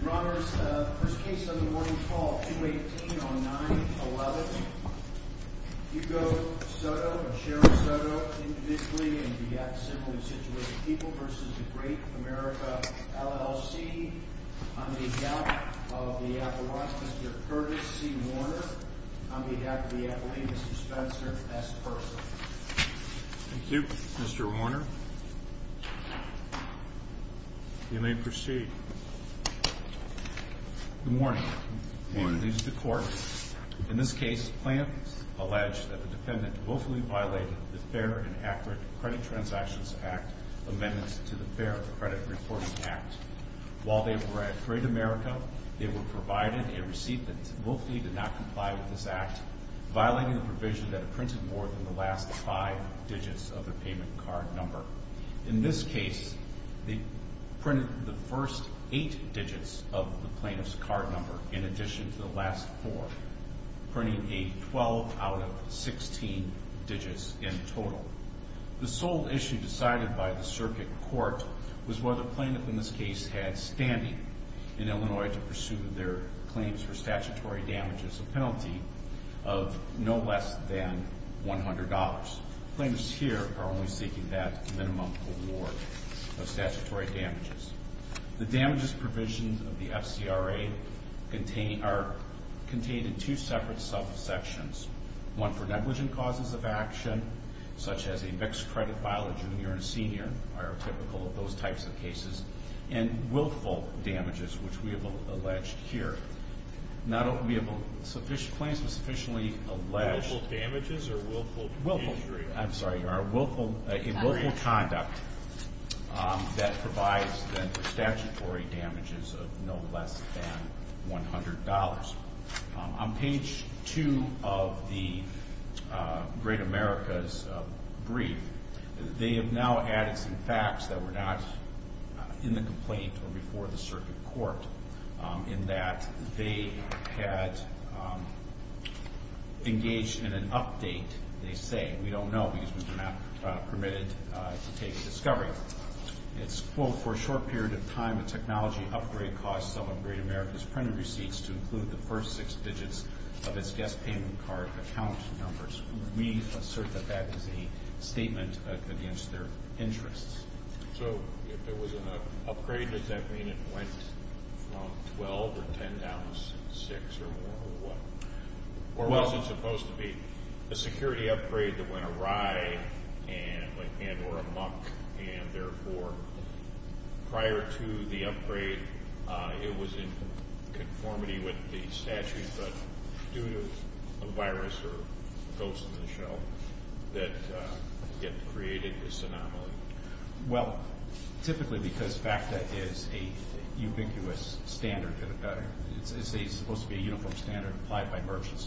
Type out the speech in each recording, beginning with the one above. Your Honors, first case on the morning call, 218-09-11, Hugo Soto and Sharon Soto, individually and similarly situated people, v. Great America LLC, on behalf of the Appellate, Mr. Curtis C. Warner, on behalf of the Appellate, Mr. Spencer S. Persil. Thank you, Mr. Warner. You may proceed. In this case, they printed the first eight digits of the plaintiff's card number in addition to the last four, printing a 12 out of 16 digits in total. The sole issue decided by the circuit court was whether plaintiff in this case had standing in Illinois to pursue their claims for statutory damages, a penalty of no less than $100. Claimants here are only seeking that minimum award of statutory damages. The damages provision of the FCRA are contained in two separate subsections. One for negligent causes of action, such as a mixed credit file of junior and senior, are typical of those types of cases, and willful damages, which we have alleged here. Claims were sufficiently alleged. Willful damages or willful injuries? I'm sorry, a willful conduct that provides then for statutory damages of no less than $100. On page two of the Great America's brief, they have now added some facts that were not in the complaint or before the circuit court, in that they had engaged in an update, they say. We don't know, because we were not permitted to take a discovery. It's, quote, for a short period of time, a technology upgrade caused some of Great America's printed receipts to include the first six digits of its guest payment card account numbers. We assert that that is a statement against their interests. So if there was an upgrade, does that mean it went from 12 or 10 down to six or more, or what? Or was it supposed to be a security upgrade that went awry and or amuck, and therefore, prior to the upgrade, it was in conformity with the statute, but due to a virus or a ghost in the shell that created this anomaly? Well, typically, because FACTA is a ubiquitous standard, it's supposed to be a uniform standard applied by merchants,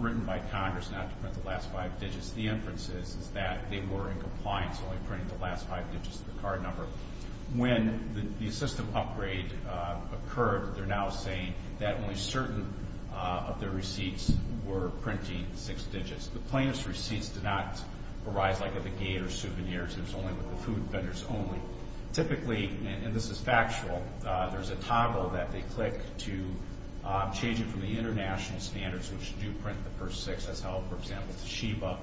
written by Congress not to print the last five digits. The inference is that they were in compliance, only printing the last five digits of the card number. When the system upgrade occurred, they're now saying that only certain of their receipts were printing six digits. The plaintiff's receipts did not arise like at the gate or souvenirs. It was only with the food vendors only. Typically, and this is factual, there's a toggle that they click to change it from the international standards, which do print the first six. That's how, for example, Toshiba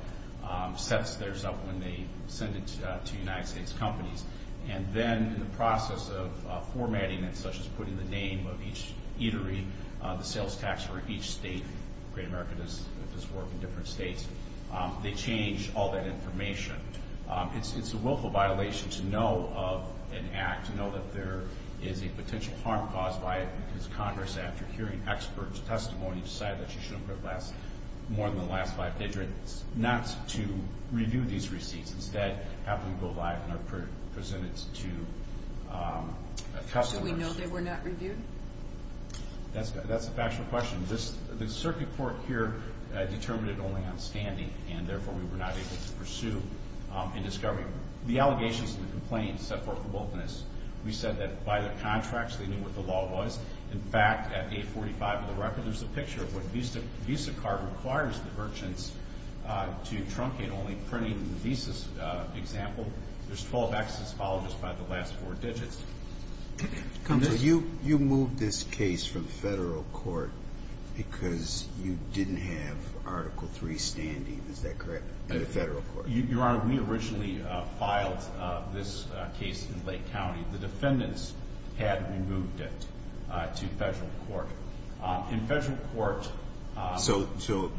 sets theirs up when they send it to United States companies. Then, in the process of formatting it, such as putting the name of each eatery, the sales tax for each state, Great America does this work in different states, they change all that information. It's a willful violation to know of an act, to know that there is a potential harm caused by it, because Congress, after hearing experts' testimony, decided that you shouldn't print more than the last five digits. Not to review these receipts. Instead, have them go live and are presented to customers. Should we know they were not reviewed? That's a factual question. The circuit court here determined it only on standing, and therefore, we were not able to pursue in discovery. The allegations and the complaints set forth the boldness. We said that by the contracts, they knew what the law was. In fact, at 845 of the record, there's a picture of what Visa card requires the merchants to truncate only printing the Visa example. There's 12 X's followed just by the last four digits. You moved this case from federal court because you didn't have Article III standing, is that correct, in the federal court? Your Honor, we originally filed this case in Lake County. The defendants had removed it to federal court. In federal court — So,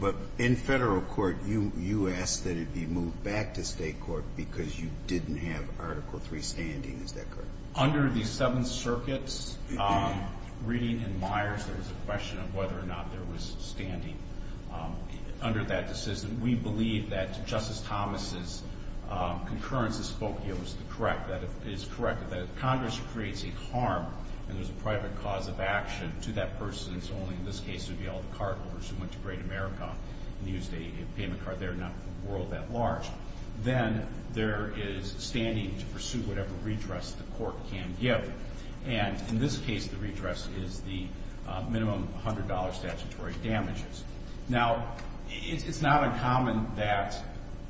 but in federal court, you asked that it be moved back to state court because you didn't have Article III standing, is that correct? Under the Seventh Circuit's reading in Myers, there was a question of whether or not there was standing under that decision. We believe that Justice Thomas' concurrence to Spokio is correct, that Congress creates a harm and there's a private cause of action to that person. It's only in this case it would be all the cargoers who went to Great America and used a payment card there not for the world that large. Then there is standing to pursue whatever redress the court can give. And in this case, the redress is the minimum $100 statutory damages. Now, it's not uncommon that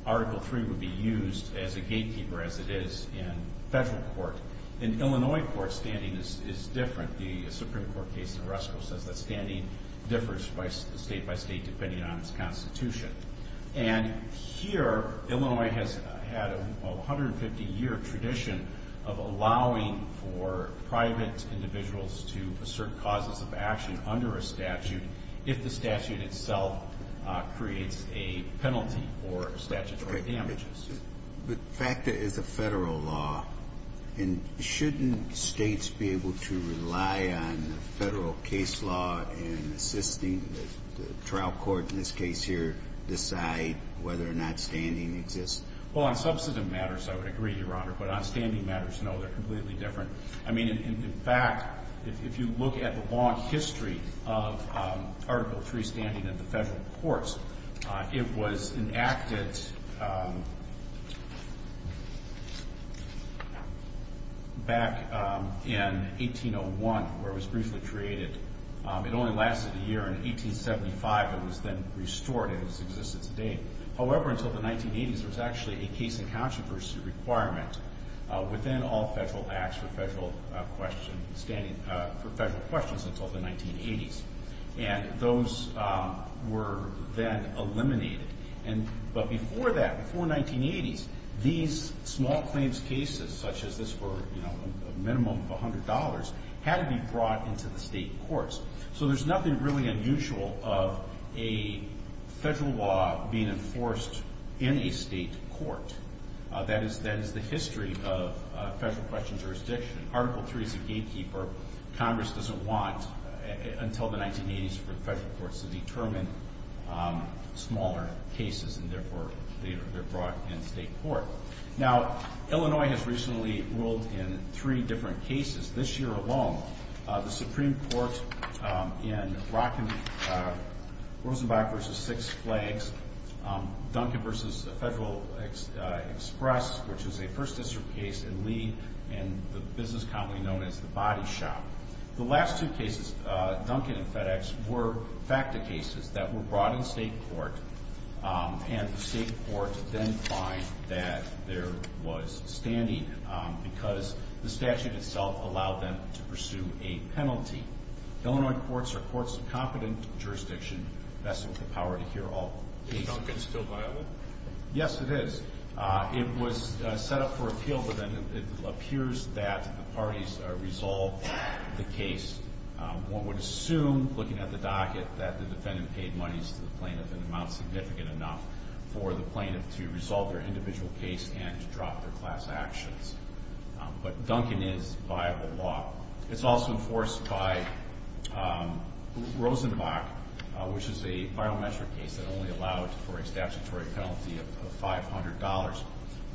Article III would be used as a gatekeeper, as it is in federal court. In Illinois court, standing is different. The Supreme Court case in Oresko says that standing differs state by state depending on its constitution. And here, Illinois has had a 150-year tradition of allowing for private individuals to assert causes of action under a statute if the statute itself creates a penalty or statutory damages. But FACTA is a federal law. And shouldn't States be able to rely on the federal case law in assisting the trial court in this case here decide whether or not standing exists? Well, on substantive matters, I would agree, Your Honor. But on standing matters, no, they're completely different. I mean, in fact, if you look at the long history of Article III standing in the federal courts, it was enacted back in 1801, where it was briefly created. It only lasted a year. In 1875, it was then restored in its existence today. However, until the 1980s, there was actually a case in controversy requirement within all federal acts for federal questions until the 1980s. And those were then eliminated. But before that, before 1980s, these small claims cases, such as this for a minimum of $100, had to be brought into the state courts. So there's nothing really unusual of a federal law being enforced in a state court. That is the history of federal question jurisdiction. Article III is a gatekeeper. Congress doesn't want until the 1980s for the federal courts to determine smaller cases, and therefore, they're brought in state court. Now, Illinois has recently ruled in three different cases. This year alone, the Supreme Court in Rosenbach v. Six Flags, Duncan v. Federal Express, which is a First District case, and Lee in the business county known as the Body Shop. The last two cases, Duncan and FedEx, were facta cases that were brought in state court. And the state courts then find that there was standing because the statute itself allowed them to pursue a penalty. Illinois courts are courts of competent jurisdiction vested with the power to hear all cases. Is Duncan still viable? Yes, it is. It was set up for appeal, but then it appears that the parties resolved the case. One would assume, looking at the docket, that the defendant paid monies to the plaintiff in amounts significant enough for the plaintiff to resolve their individual case and to drop their class actions. But Duncan is viable law. It's also enforced by Rosenbach, which is a biometric case that only allowed for a statutory penalty of $500.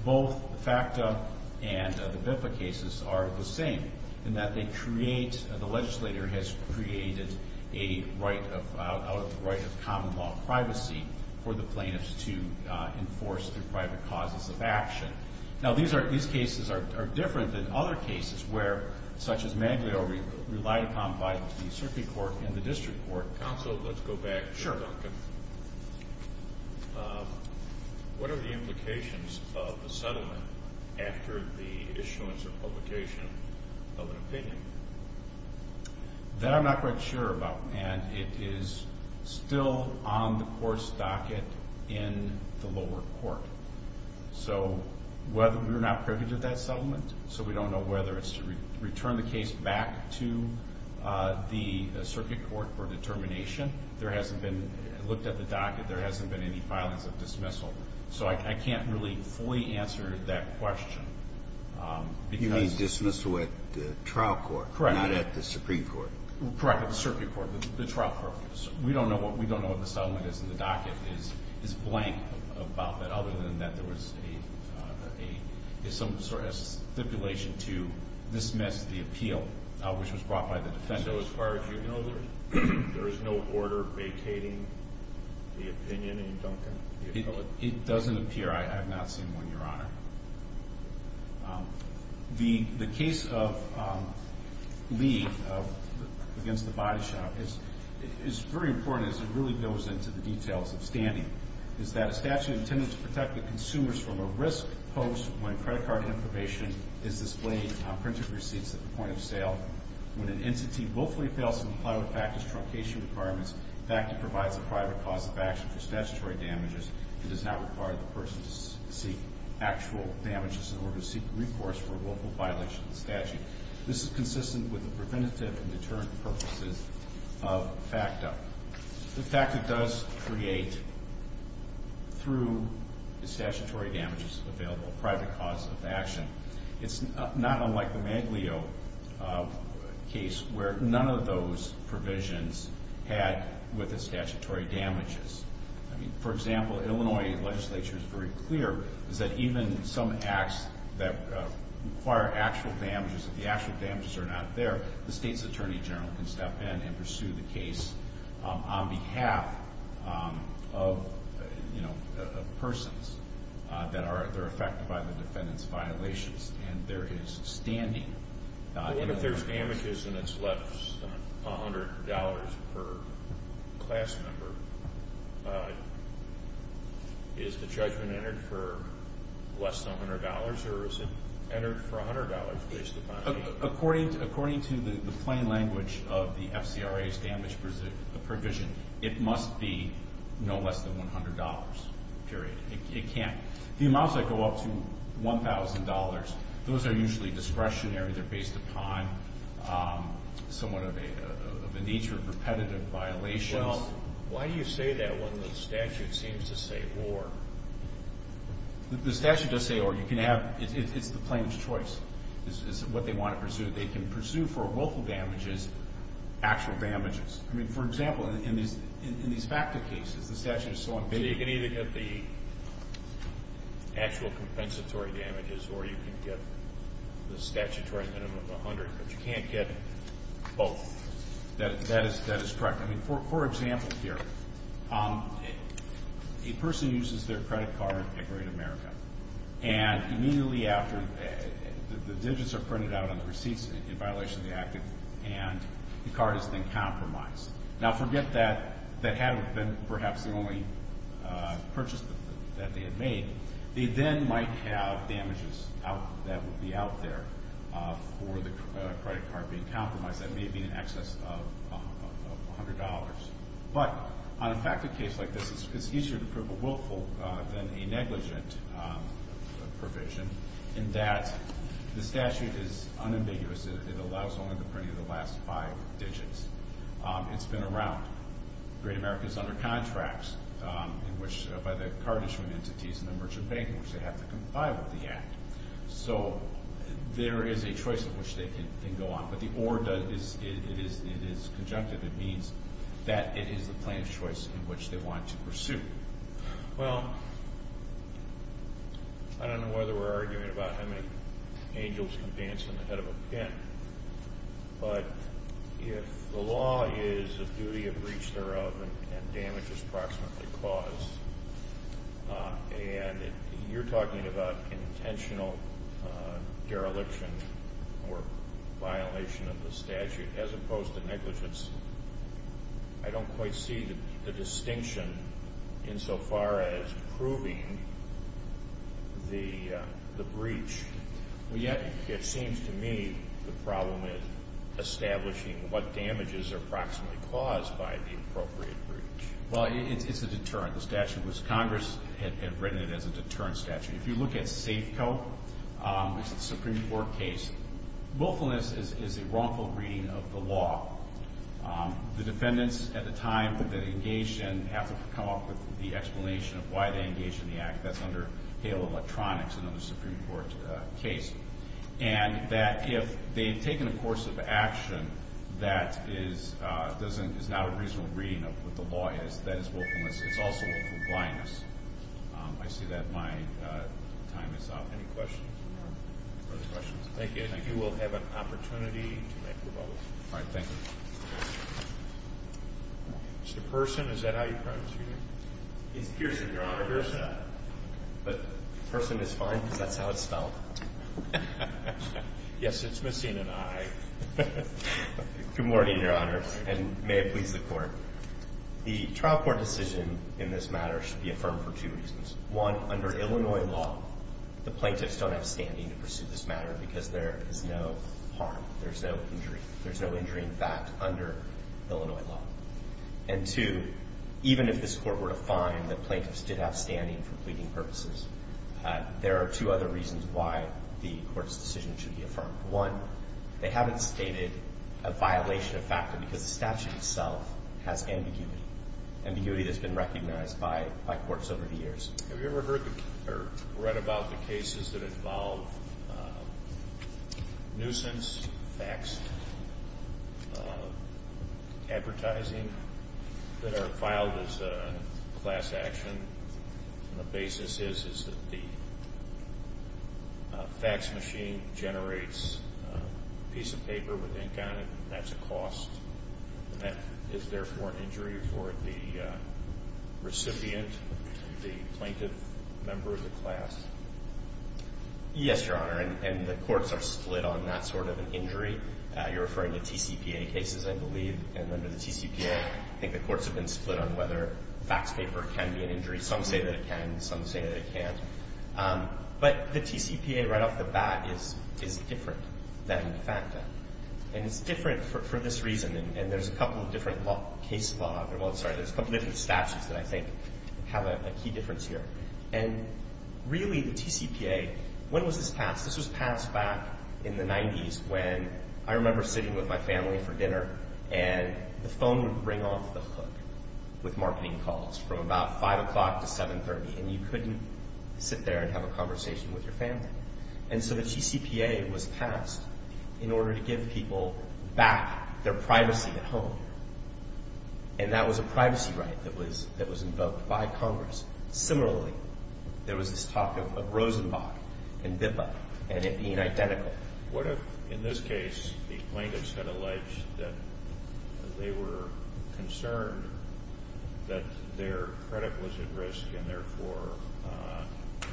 Both the facta and the BIFA cases are the same in that the legislator has created a right of common law privacy for the plaintiffs to enforce through private causes of action. Now, these cases are different than other cases where, such as Mangalore, relied upon by the Supreme Court and the District Court. Counsel, let's go back to Duncan. Sure. What are the implications of a settlement after the issuance or publication of an opinion? That I'm not quite sure about, and it is still on the court's docket in the lower court. So we're not privileged at that settlement, so we don't know whether it's to return the case back to the circuit court for determination. There hasn't been looked at the docket. There hasn't been any filings of dismissal. So I can't really fully answer that question. You mean dismissal at the trial court, not at the Supreme Court? Correct, at the circuit court, the trial court. We don't know what the settlement is in the docket. It's blank about that, other than that there was some sort of stipulation to dismiss the appeal, which was brought by the defender. So as far as you know, there is no order vacating the opinion in Duncan? It doesn't appear. I have not seen one, Your Honor. The case of Lee against the body shop is very important as it really goes into the details of standing. It's that a statute intended to protect the consumers from a risk posed when credit card information is displayed on printed receipts at the point of sale. When an entity willfully fails to comply with FACTA's truncation requirements, FACTA provides a private cause of action for statutory damages and does not require the person to seek actual damages in order to seek recourse for a willful violation of the statute. This is consistent with the preventative and deterrent purposes of FACTA. The FACTA does create, through the statutory damages available, a private cause of action. It's not unlike the Maglio case where none of those provisions had with the statutory damages. I mean, for example, Illinois legislature is very clear that even some acts that require actual damages, if the actual damages are not there, the state's attorney general can step in and pursue the case on behalf of, you know, and there is standing. If there's damages and it's less than $100 per class member, is the judgment entered for less than $100 or is it entered for $100 based upon? According to the plain language of the FCRA's damage provision, it must be, you know, less than $100, period. It can't. The amounts that go up to $1,000, those are usually discretionary. They're based upon somewhat of a nature of repetitive violations. Well, why do you say that when the statute seems to say or? The statute does say or. You can have – it's the plaintiff's choice is what they want to pursue. They can pursue for willful damages, actual damages. I mean, for example, in these FACTA cases, the statute is so unbiased. So you can either get the actual compensatory damages or you can get the statutory minimum of $100, but you can't get both. That is correct. I mean, for example here, a person uses their credit card at Great America, and immediately after, the digits are printed out on the receipts in violation of the act, and the card has been compromised. Now, forget that that hadn't been perhaps the only purchase that they had made. They then might have damages that would be out there for the credit card being compromised that may have been in excess of $100. But on a FACTA case like this, it's easier to prove a willful than a negligent provision in that the statute is unambiguous. It allows only the printing of the last five digits. It's been around. Great America is under contracts by the card issuance entities and the merchant bank in which they have to comply with the act. So there is a choice in which they can go on. But the ORDA, it is conjunctive. It means that it is the plan of choice in which they want to pursue. Well, I don't know whether we're arguing about how many angels can dance on the head of a pin. But if the law is a duty of breach thereof and damage is approximately caused, and you're talking about intentional dereliction or violation of the statute as opposed to negligence, I don't quite see the distinction insofar as proving the breach. Well, yeah, it seems to me the problem is establishing what damages are approximately caused by the appropriate breach. Well, it's a deterrent. The statute was Congress had written it as a deterrent statute. If you look at Safeco, it's a Supreme Court case, willfulness is a wrongful reading of the law. The defendants at the time that they engaged in have to come up with the explanation of why they engaged in the act. That's under Hale Electronics, another Supreme Court case. And that if they've taken a course of action that is not a reasonable reading of what the law is, that is willfulness. It's also willful blindness. I see that my time is up. Any questions or further questions? Thank you. And you will have an opportunity to make your vote. All right. Thank you. Mr. Person, is that how you pronounce your name? It's Pearson, Your Honor. Pearson. But Person is fine because that's how it's spelled. Yes, it's missing an I. Good morning, Your Honor, and may it please the Court. The trial court decision in this matter should be affirmed for two reasons. One, under Illinois law, the plaintiffs don't have standing to pursue this matter because there is no harm, there's no injury. There's no injury in fact under Illinois law. And two, even if this Court were to find that plaintiffs did have standing for pleading purposes, there are two other reasons why the Court's decision should be affirmed. One, they haven't stated a violation of factor because the statute itself has ambiguity, ambiguity that's been recognized by courts over the years. Have you ever heard or read about the cases that involve nuisance fax advertising that are filed as a class action? And the basis is that the fax machine generates a piece of paper with ink on it, and that's a cost. Is there, therefore, injury for the recipient, the plaintiff member of the class? Yes, Your Honor, and the courts are split on that sort of an injury. You're referring to TCPA cases, I believe, and under the TCPA, I think the courts have been split on whether fax paper can be an injury. Some say that it can, some say that it can't. But the TCPA right off the bat is different than the FACTA. And it's different for this reason, and there's a couple of different case law, well, sorry, there's a couple different statutes that I think have a key difference here. And really, the TCPA, when was this passed? This was passed back in the 90s when I remember sitting with my family for dinner, and the phone would ring off the hook with marketing calls from about 5 o'clock to 7.30, and you couldn't sit there and have a conversation with your family. And so the TCPA was passed in order to give people back their privacy at home, and that was a privacy right that was invoked by Congress. Similarly, there was this talk of Rosenbach and BIPA and it being identical. What if, in this case, the plaintiffs had alleged that they were concerned that their credit was at risk and therefore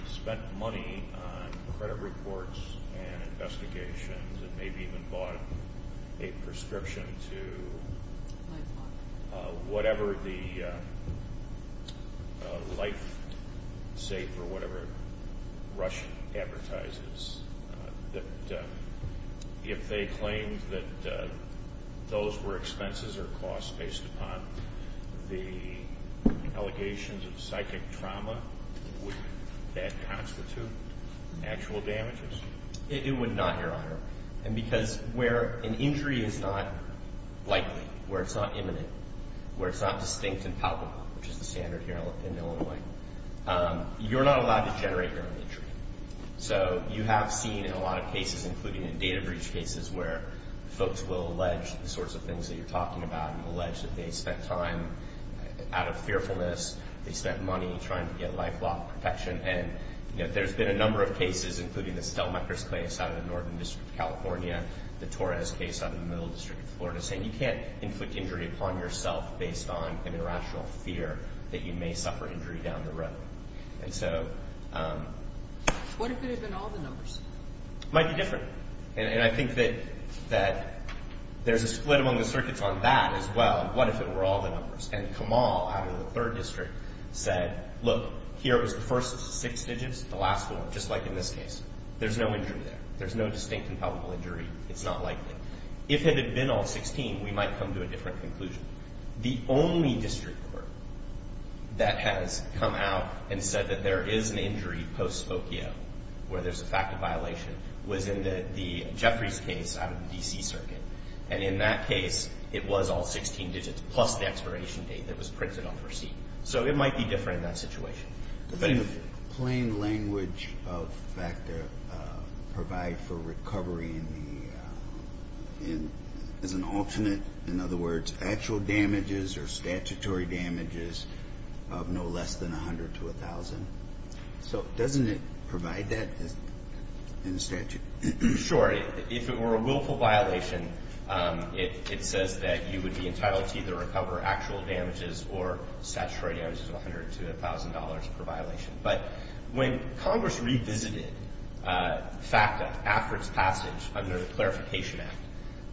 spent money on credit reports and investigations and maybe even bought a prescription to whatever the LifeSafe or whatever Rush advertises, that if they claimed that those were expenses or costs based upon the allegations of psychic trauma, would that constitute actual damages? It would not, Your Honor, and because where an injury is not likely, where it's not imminent, where it's not distinct and palpable, which is the standard here in Illinois, you're not allowed to generate your own injury. So you have seen in a lot of cases, including in data breach cases, where folks will allege the sorts of things that you're talking about and allege that they spent time out of fearfulness, they spent money trying to get life-long protection. And there's been a number of cases, including the Stelmeckers case out of the Northern District of California, the Torres case out of the Middle District of Florida, saying you can't inflict injury upon yourself based on an irrational fear that you may suffer injury down the road. And so... What if it had been all the numbers? It might be different, and I think that there's a split among the circuits on that as well. What if it were all the numbers? And Kamal out of the Third District said, look, here was the first six digits, the last one, just like in this case. There's no injury there. There's no distinct and palpable injury. It's not likely. If it had been all 16, we might come to a different conclusion. The only district court that has come out and said that there is an injury post-spokio, where there's a fact of violation, was in the Jeffries case out of the D.C. Circuit. And in that case, it was all 16 digits plus the expiration date that was printed on the receipt. So it might be different in that situation. Does the plain language of FACTA provide for recovery in the, as an alternate, in other words, actual damages or statutory damages of no less than 100 to 1,000? So doesn't it provide that in statute? Sure. If it were a willful violation, it says that you would be entitled to either recover actual damages or statutory damages of 100 to 1,000 dollars per violation. But when Congress revisited FACTA after its passage under the Clarification Act,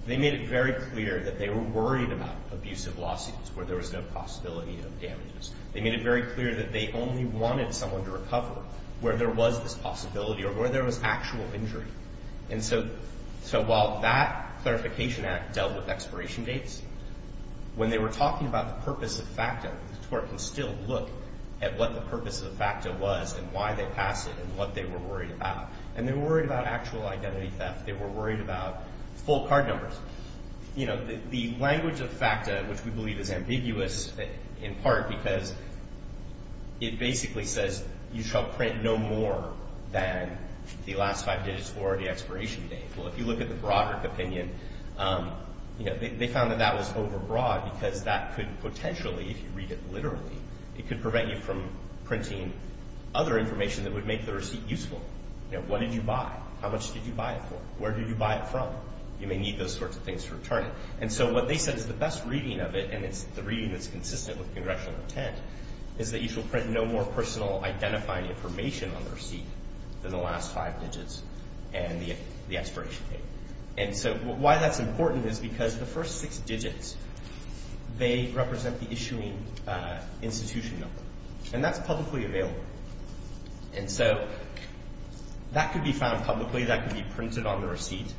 they made it very clear that they were worried about abusive lawsuits where there was no possibility of damages. They made it very clear that they only wanted someone to recover where there was this possibility or where there was actual injury. And so while that Clarification Act dealt with expiration dates, when they were talking about the purpose of FACTA, the tort can still look at what the purpose of FACTA was and why they passed it and what they were worried about. And they were worried about actual identity theft. They were worried about full card numbers. You know, the language of FACTA, which we believe is ambiguous, in part because it basically says you shall print no more than the last five digits or the expiration date. Well, if you look at the Broderick opinion, you know, they found that that was overbroad because that could potentially, if you read it literally, it could prevent you from printing other information that would make the receipt useful. You know, what did you buy? How much did you buy it for? Where did you buy it from? You may need those sorts of things to return it. And so what they said is the best reading of it, and it's the reading that's consistent with Congressional intent, is that you shall print no more personal identifying information on the receipt than the last five digits and the expiration date. And so why that's important is because the first six digits, they represent the issuing institution number. And that's publicly available. And so that could be found publicly. That could be printed on the receipt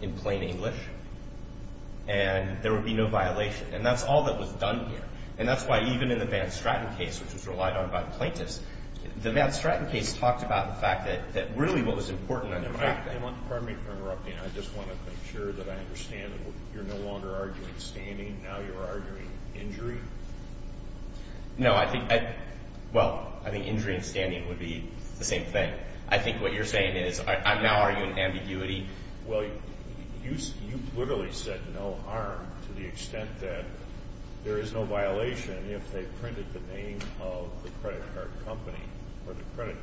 in plain English. And there would be no violation. And that's all that was done here. And that's why even in the Van Stratten case, which was relied on by the plaintiffs, the Van Stratten case talked about the fact that really what was important under the fact that – Pardon me for interrupting. I just want to make sure that I understand. You're no longer arguing standing. Now you're arguing injury. No, I think – well, I think injury and standing would be the same thing. I think what you're saying is I'm now arguing ambiguity. Well, you literally said no harm to the extent that there is no violation if they printed the name of the credit card company or the credit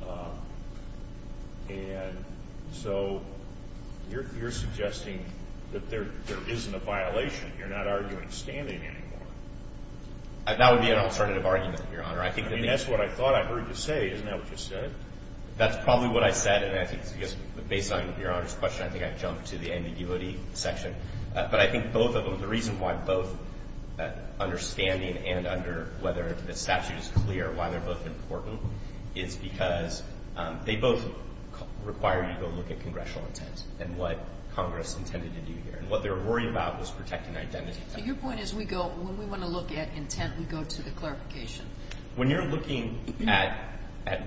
company. And so you're suggesting that there isn't a violation. You're not arguing standing anymore. That would be an alternative argument, Your Honor. I mean, that's what I thought I heard you say. Isn't that what you said? That's probably what I said. And I think, based on Your Honor's question, I think I jumped to the ambiguity section. But I think both of them, the reason why both understanding and under whether the statute is clear why they're both important is because they both require you to go look at congressional intent and what Congress intended to do here. And what they were worried about was protecting identity. So your point is we go – when we want to look at intent, we go to the clarification. When you're looking at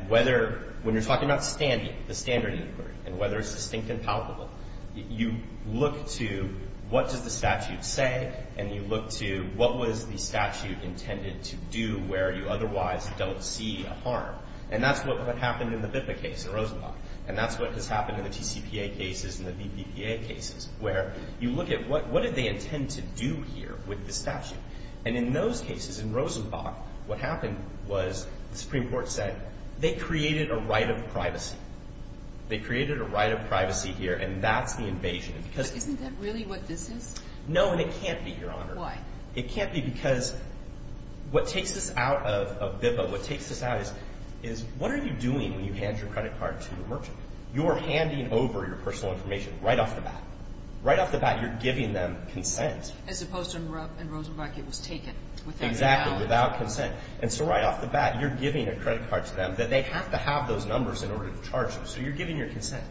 whether – when you're talking about standing, the standard inquiry, and whether it's distinct and palpable, you look to what does the statute say, and you look to what was the statute intended to do where you otherwise don't see a harm. And that's what happened in the BIPA case in Rosenbach. And that's what has happened in the TCPA cases and the BPPA cases, where you look at what did they intend to do here with the statute. And in those cases, in Rosenbach, what happened was the Supreme Court said they created a right of privacy. They created a right of privacy here, and that's the invasion. But isn't that really what this is? No, and it can't be, Your Honor. Why? It can't be because what takes us out of BIPA, what takes us out is what are you doing when you hand your credit card to the merchant? You are handing over your personal information right off the bat. Right off the bat, you're giving them consent. As opposed to in Rosenbach, it was taken. Exactly. Without consent. And so right off the bat, you're giving a credit card to them that they have to have those numbers in order to charge them. So you're giving your consent.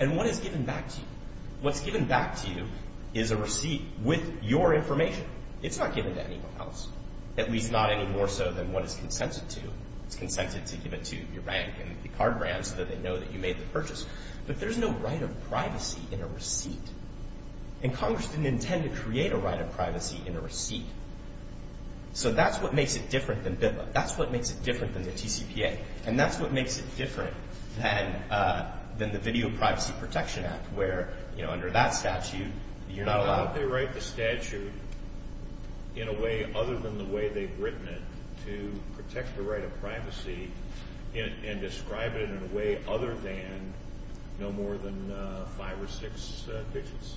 And what is given back to you? What's given back to you is a receipt with your information. It's not given to anyone else, at least not any more so than what is consented to. It's consented to give it to your bank and the card brand so that they know that you made the purchase. But there's no right of privacy in a receipt. And Congress didn't intend to create a right of privacy in a receipt. So that's what makes it different than BIPA. That's what makes it different than the TCPA. And that's what makes it different than the Video Privacy Protection Act where, you know, under that statute, you're not allowed. Why don't they write the statute in a way other than the way they've written it to protect the right of privacy and describe it in a way other than no more than five or six digits?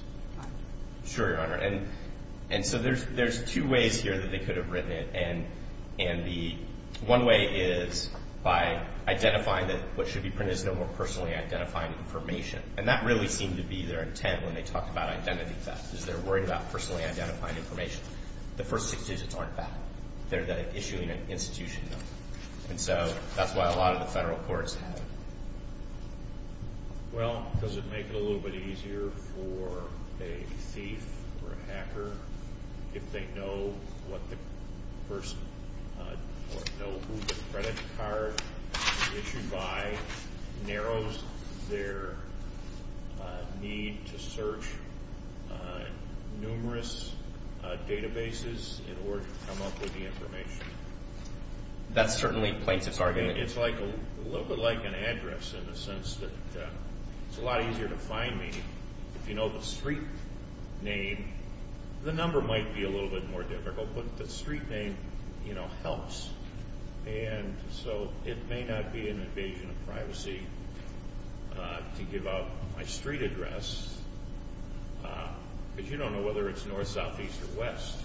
Sure, Your Honor. And so there's two ways here that they could have written it. And the one way is by identifying that what should be printed is no more personally identified information. And that really seemed to be their intent when they talked about identity theft is they're worried about personally identifying information. The first six digits aren't that. They're the issuing institution number. And so that's why a lot of the federal courts have it. Well, does it make it a little bit easier for a thief or a hacker if they know what the person or know who the credit card issued by narrows their need to search numerous databases in order to come up with the information? That's certainly plaintiff's argument. It's a little bit like an address in the sense that it's a lot easier to find me if you know the street name. The number might be a little bit more difficult, but the street name, you know, helps. And so it may not be an invasion of privacy to give out my street address because you don't know whether it's north, south, east, or west.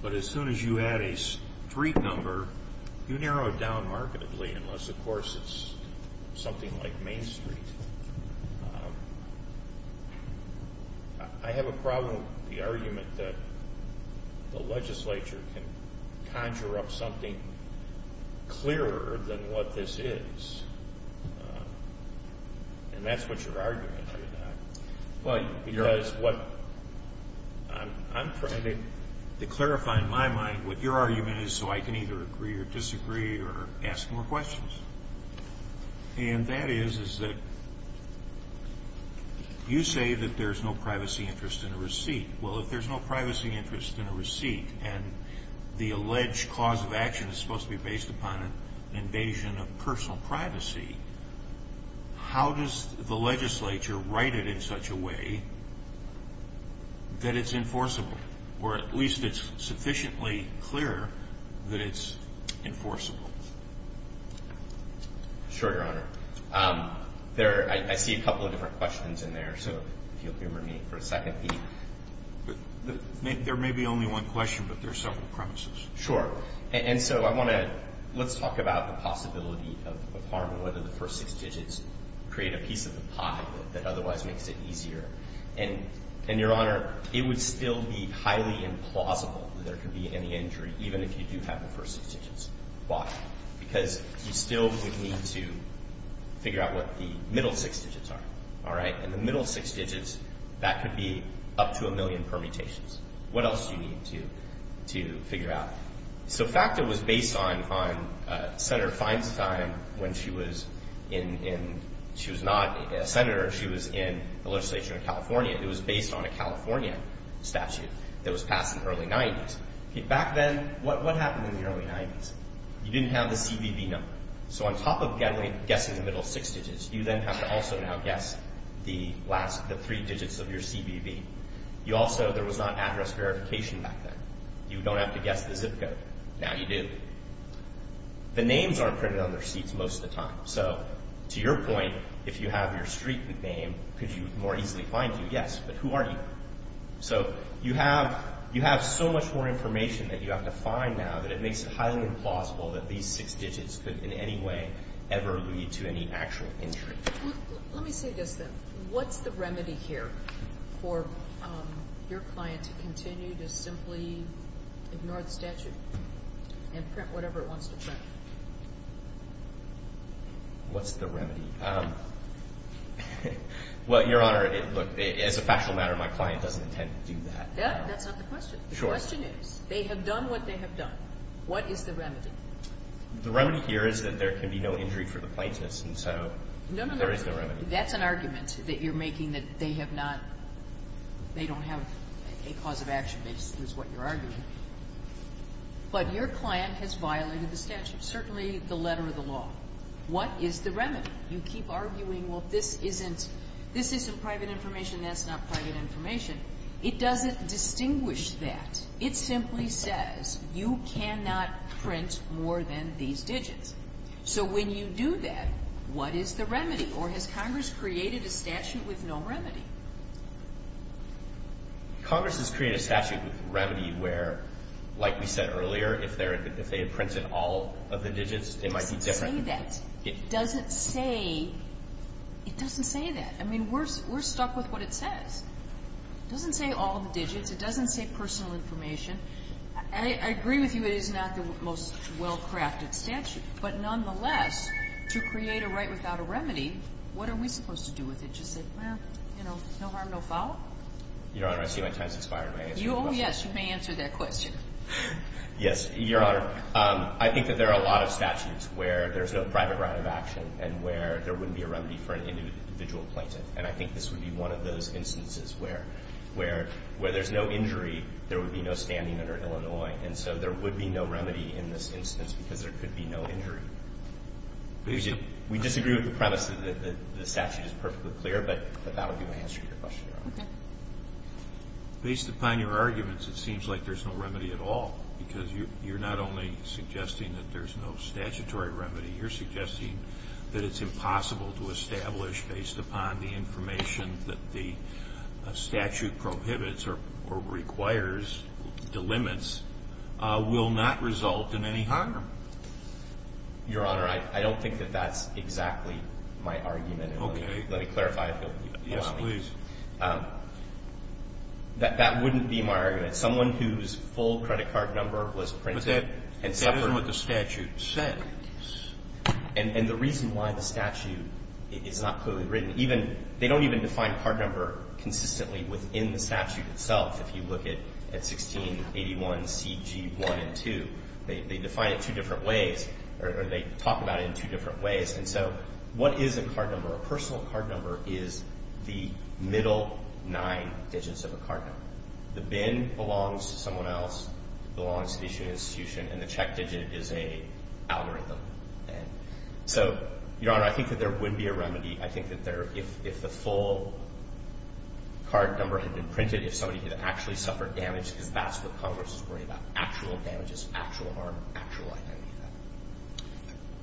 But as soon as you add a street number, you narrow it down markedly unless, of course, it's something like Main Street. I have a problem with the argument that the legislature can conjure up something clearer than what this is. And that's what your argument is. I'm trying to clarify in my mind what your argument is so I can either agree or disagree or ask more questions. And that is that you say that there's no privacy interest in a receipt. Well, if there's no privacy interest in a receipt and the alleged cause of action is supposed to be based upon an invasion of personal privacy, how does the legislature write it in such a way that it's enforceable or at least it's sufficiently clear that it's enforceable? Sure, Your Honor. There are – I see a couple of different questions in there, so if you'll excuse me for a second. There may be only one question, but there are several premises. Sure. And so I want to – let's talk about the possibility of harm and whether the first six digits create a piece of the pie that otherwise makes it easier. And, Your Honor, it would still be highly implausible that there could be any injury even if you do have the first six digits. Why? Because you still would need to figure out what the middle six digits are. All right? And the middle six digits, that could be up to a million permutations. What else do you need to figure out? So FACTA was based on Senator Feinstein when she was in – she was not a senator. She was in the legislature in California. It was based on a California statute that was passed in the early 90s. Back then, what happened in the early 90s? You didn't have the CBV number. So on top of guessing the middle six digits, you then have to also now guess the last – the three digits of your CBV. You also – there was not address verification back then. You don't have to guess the zip code. Now you do. The names aren't printed on their seats most of the time. So to your point, if you have your street name, could you more easily find you? Yes. But who are you? So you have so much more information that you have to find now that it makes it highly implausible that these six digits could in any way ever lead to any actual injury. Let me say this then. What's the remedy here for your client to continue to simply ignore the statute and print whatever it wants to print? What's the remedy? Well, Your Honor, look, as a factual matter, my client doesn't intend to do that. That's not the question. Sure. The question is, they have done what they have done. What is the remedy? The remedy here is that there can be no injury for the plaintiffs, and so there is no remedy. No, no, no. That's an argument that you're making, that they have not – they don't have a cause-of-action basis is what you're arguing. But your client has violated the statute, certainly the letter of the law. What is the remedy? You keep arguing, well, this isn't – this isn't private information, that's not private information. It doesn't distinguish that. It simply says you cannot print more than these digits. So when you do that, what is the remedy? Or has Congress created a statute with no remedy? Congress has created a statute with remedy where, like we said earlier, if they had printed all of the digits, they might be different. It doesn't say that. It doesn't say – it doesn't say that. I mean, we're stuck with what it says. It doesn't say all of the digits. It doesn't say personal information. I agree with you it is not the most well-crafted statute. But nonetheless, to create a right without a remedy, what are we supposed to do with it? Just say, well, you know, no harm, no foul? Your Honor, I see my time has expired. May I answer your question? Oh, yes. You may answer that question. Yes, Your Honor. I think that there are a lot of statutes where there's no private right of action and where there wouldn't be a remedy for an individual plaintiff. And I think this would be one of those instances where there's no injury, there would be no standing under Illinois. And so there would be no remedy in this instance because there could be no injury. We disagree with the premise that the statute is perfectly clear, but that would be my answer to your question, Your Honor. Okay. Based upon your arguments, it seems like there's no remedy at all because you're not only suggesting that there's no statutory remedy, you're suggesting that it's impossible to establish based upon the information that the statute prohibits or requires, the limits, will not result in any harm. Your Honor, I don't think that that's exactly my argument. Okay. Let me clarify if you'll allow me. Yes, please. I think that there's no remedy in this instance because there's no statutory remedy. That wouldn't be my argument. Someone whose full credit card number was printed and separate. But that isn't what the statute says. And the reason why the statute is not clearly written, even they don't even define card number consistently within the statute itself. If you look at 1681CG1 and 2, they define it two different ways, or they talk about it in two different ways. And so what is a card number? A personal card number is the middle nine digits of a card number. The bin belongs to someone else. It belongs to the issuing institution. And the check digit is a algorithm. I think that if the full card number had been printed, if somebody had actually suffered damage, because that's what Congress is worrying about, actual damages, actual harm, actual identity.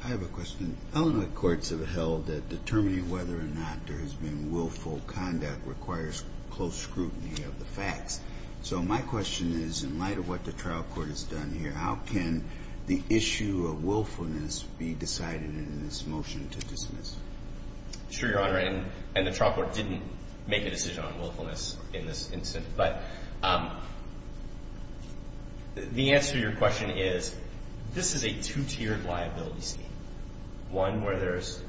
I have a question. Illinois courts have held that determining whether or not there has been willful conduct requires close scrutiny of the facts. So my question is, in light of what the trial court has done here, how can the issue of willfulness be decided in this motion to dismiss? Sure, Your Honor. And the trial court didn't make a decision on willfulness in this instance. But the answer to your question is, this is a two-tiered liability scheme, one where there's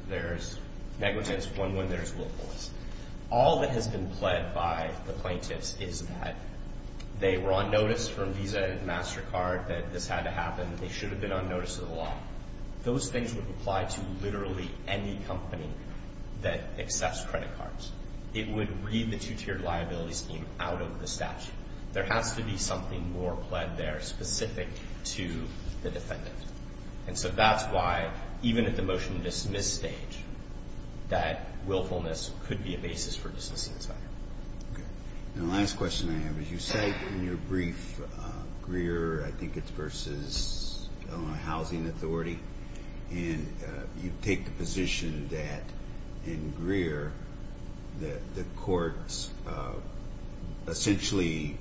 negligence, one where there's willfulness. All that has been pled by the plaintiffs is that they were on notice from Visa and MasterCard that this had to happen. They should have been on notice of the law. Those things would apply to literally any company that accepts credit cards. It would read the two-tiered liability scheme out of the statute. There has to be something more pled there specific to the defendant. And so that's why, even at the motion to dismiss stage, that willfulness could be a basis for dismissing this item. Okay. And the last question I have is, you say in your brief, Greer, I think it's versus Illinois Housing Authority, and you take the position that in Greer that the courts essentially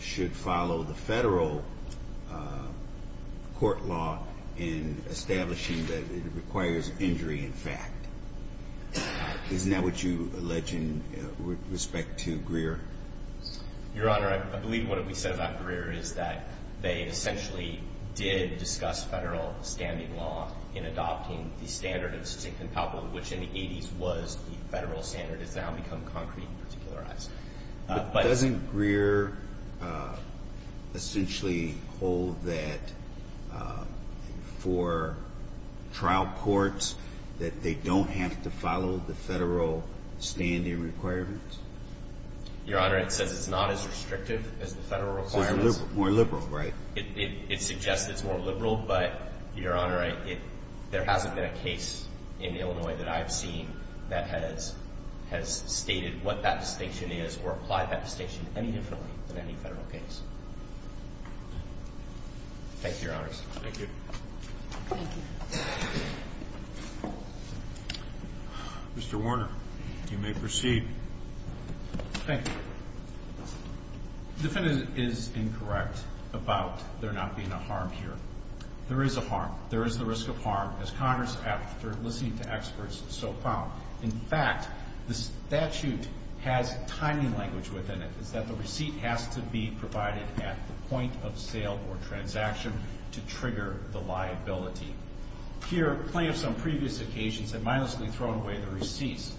should follow the federal court law in establishing that it requires injury in fact. Isn't that what you allege in respect to Greer? Your Honor, I believe what we said about Greer is that they essentially did discuss federal standing law in adopting the standard of succinct and palpable, which in the 80s was the federal standard. It's now become concrete and particularized. But doesn't Greer essentially hold that for trial courts that they don't have to follow the federal standing requirements? Your Honor, it says it's not as restrictive as the federal requirements. It's more liberal, right? It suggests it's more liberal, but, Your Honor, there hasn't been a case in Illinois that I've seen that has stated what that distinction is or applied that distinction any differently than any federal case. Thank you, Your Honors. Thank you. Thank you. Mr. Warner, you may proceed. Thank you. The defendant is incorrect about there not being a harm here. There is a harm. There is the risk of harm, as Congress, after listening to experts, so found. In fact, the statute has timing language within it. It's that the receipt has to be provided at the point of sale or transaction to trigger the liability. Here, plaintiffs on previous occasions have mindlessly thrown away the receipts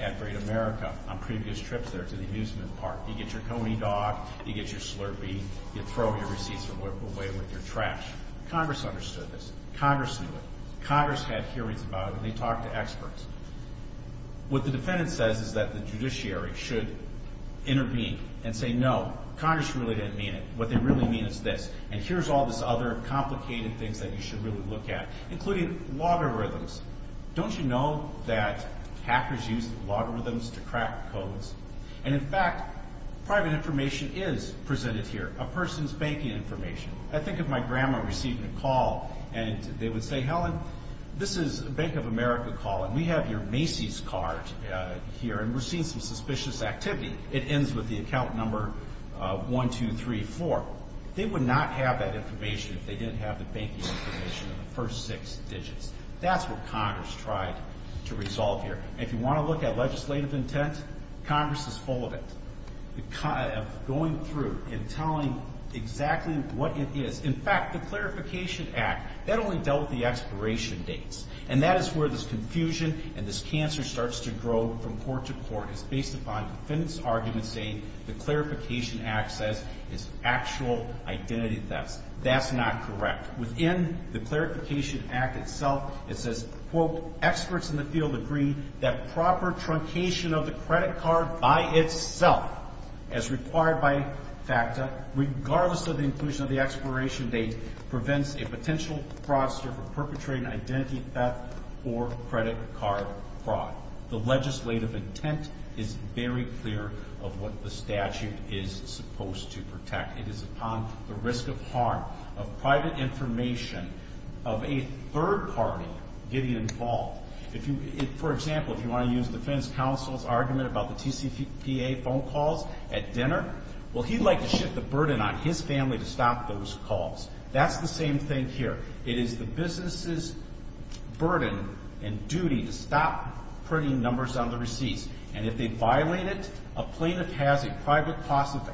at Great America on previous trips there to the amusement park. You get your coney dog. You get your Slurpee. You throw your receipts away with your trash. Congress understood this. Congress knew it. Congress had hearings about it, and they talked to experts. What the defendant says is that the judiciary should intervene and say, no, Congress really didn't mean it. What they really mean is this. And here's all this other complicated things that you should really look at, including logarithms. Don't you know that hackers use logarithms to crack codes? And, in fact, private information is presented here, a person's banking information. I think of my grandma receiving a call, and they would say, Helen, this is Bank of America calling. We have your Macy's card here, and we're seeing some suspicious activity. It ends with the account number 1234. They would not have that information if they didn't have the banking information in the first six digits. That's what Congress tried to resolve here. If you want to look at legislative intent, Congress is full of it, going through and telling exactly what it is. In fact, the Clarification Act, that only dealt with the expiration dates, and that is where this confusion and this cancer starts to grow from court to court. It's based upon defendants' arguments saying the Clarification Act says it's actual identity theft. That's not correct. Within the Clarification Act itself, it says, quote, experts in the field agree that proper truncation of the credit card by itself, as required by FACTA, regardless of the inclusion of the expiration date, prevents a potential fraudster from perpetrating identity theft or credit card fraud. The legislative intent is very clear of what the statute is supposed to protect. It is upon the risk of harm of private information of a third party getting involved. For example, if you want to use defense counsel's argument about the TCPA phone calls at dinner, well, he'd like to shift the burden on his family to stop those calls. That's the same thing here. It is the business's burden and duty to stop printing numbers on the receipts, and if they violate it, a plaintiff has a private cause of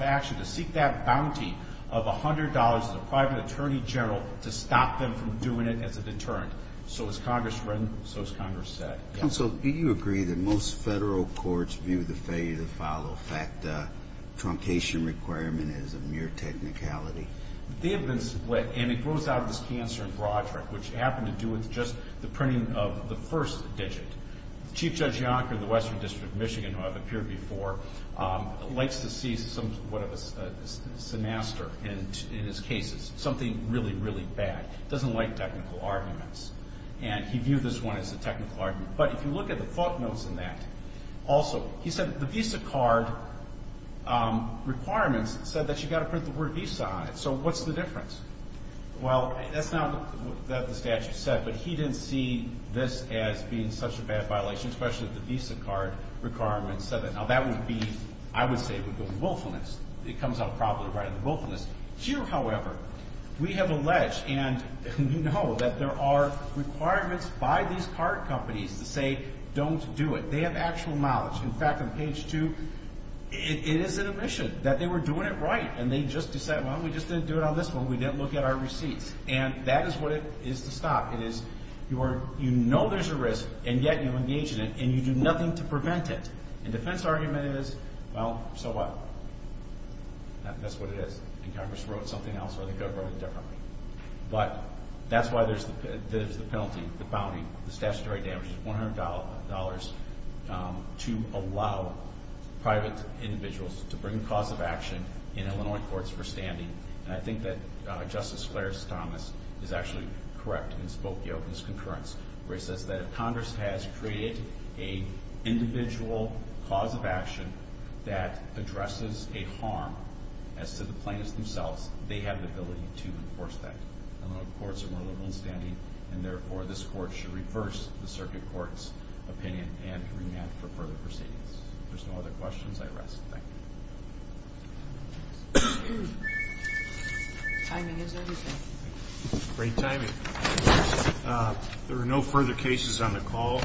action to seek that bounty of $100 as a private attorney general to stop them from doing it as a deterrent. So as Congress read them, so as Congress said. Counsel, do you agree that most federal courts view the failure to follow FACTA truncation requirement as a mere technicality? They have been split, and it grows out of this cancer in Broderick, which happened to do with just the printing of the first digit. Chief Judge Yonker of the Western District of Michigan, who I've appeared before, likes to see some sort of a sinister in his cases, something really, really bad. He doesn't like technical arguments, and he viewed this one as a technical argument. But if you look at the thought notes in that, also, he said the visa card requirements said that you've got to print the word visa on it, so what's the difference? Well, that's not what the statute said, but he didn't see this as being such a bad violation, especially if the visa card requirements said that. Now, that would be, I would say, would go to willfulness. It comes out probably right under willfulness. You, however, we have alleged and we know that there are requirements by these card companies to say don't do it. They have actual knowledge. In fact, on page two, it is an omission that they were doing it right, and they just decided, well, we just didn't do it on this one. We didn't look at our receipts. And that is what it is to stop. It is you know there's a risk, and yet you engage in it, and you do nothing to prevent it. And defense argument is, well, so what? That's what it is. And Congress wrote something else, or they could have wrote it differently. But that's why there's the penalty, the bounty, the statutory damages, $100 to allow private individuals to bring a cause of action in Illinois courts for standing. And I think that Justice Clarence Thomas is actually correct in his concurrence, where he says that if Congress has created an individual cause of action that addresses a harm as to the plaintiffs themselves, they have the ability to enforce that. Illinois courts are more liberal in standing, and therefore this court should reverse the circuit court's opinion and remand for further proceedings. If there's no other questions, I rest. Thank you. Timing is everything. Great timing. There are no further cases on the call.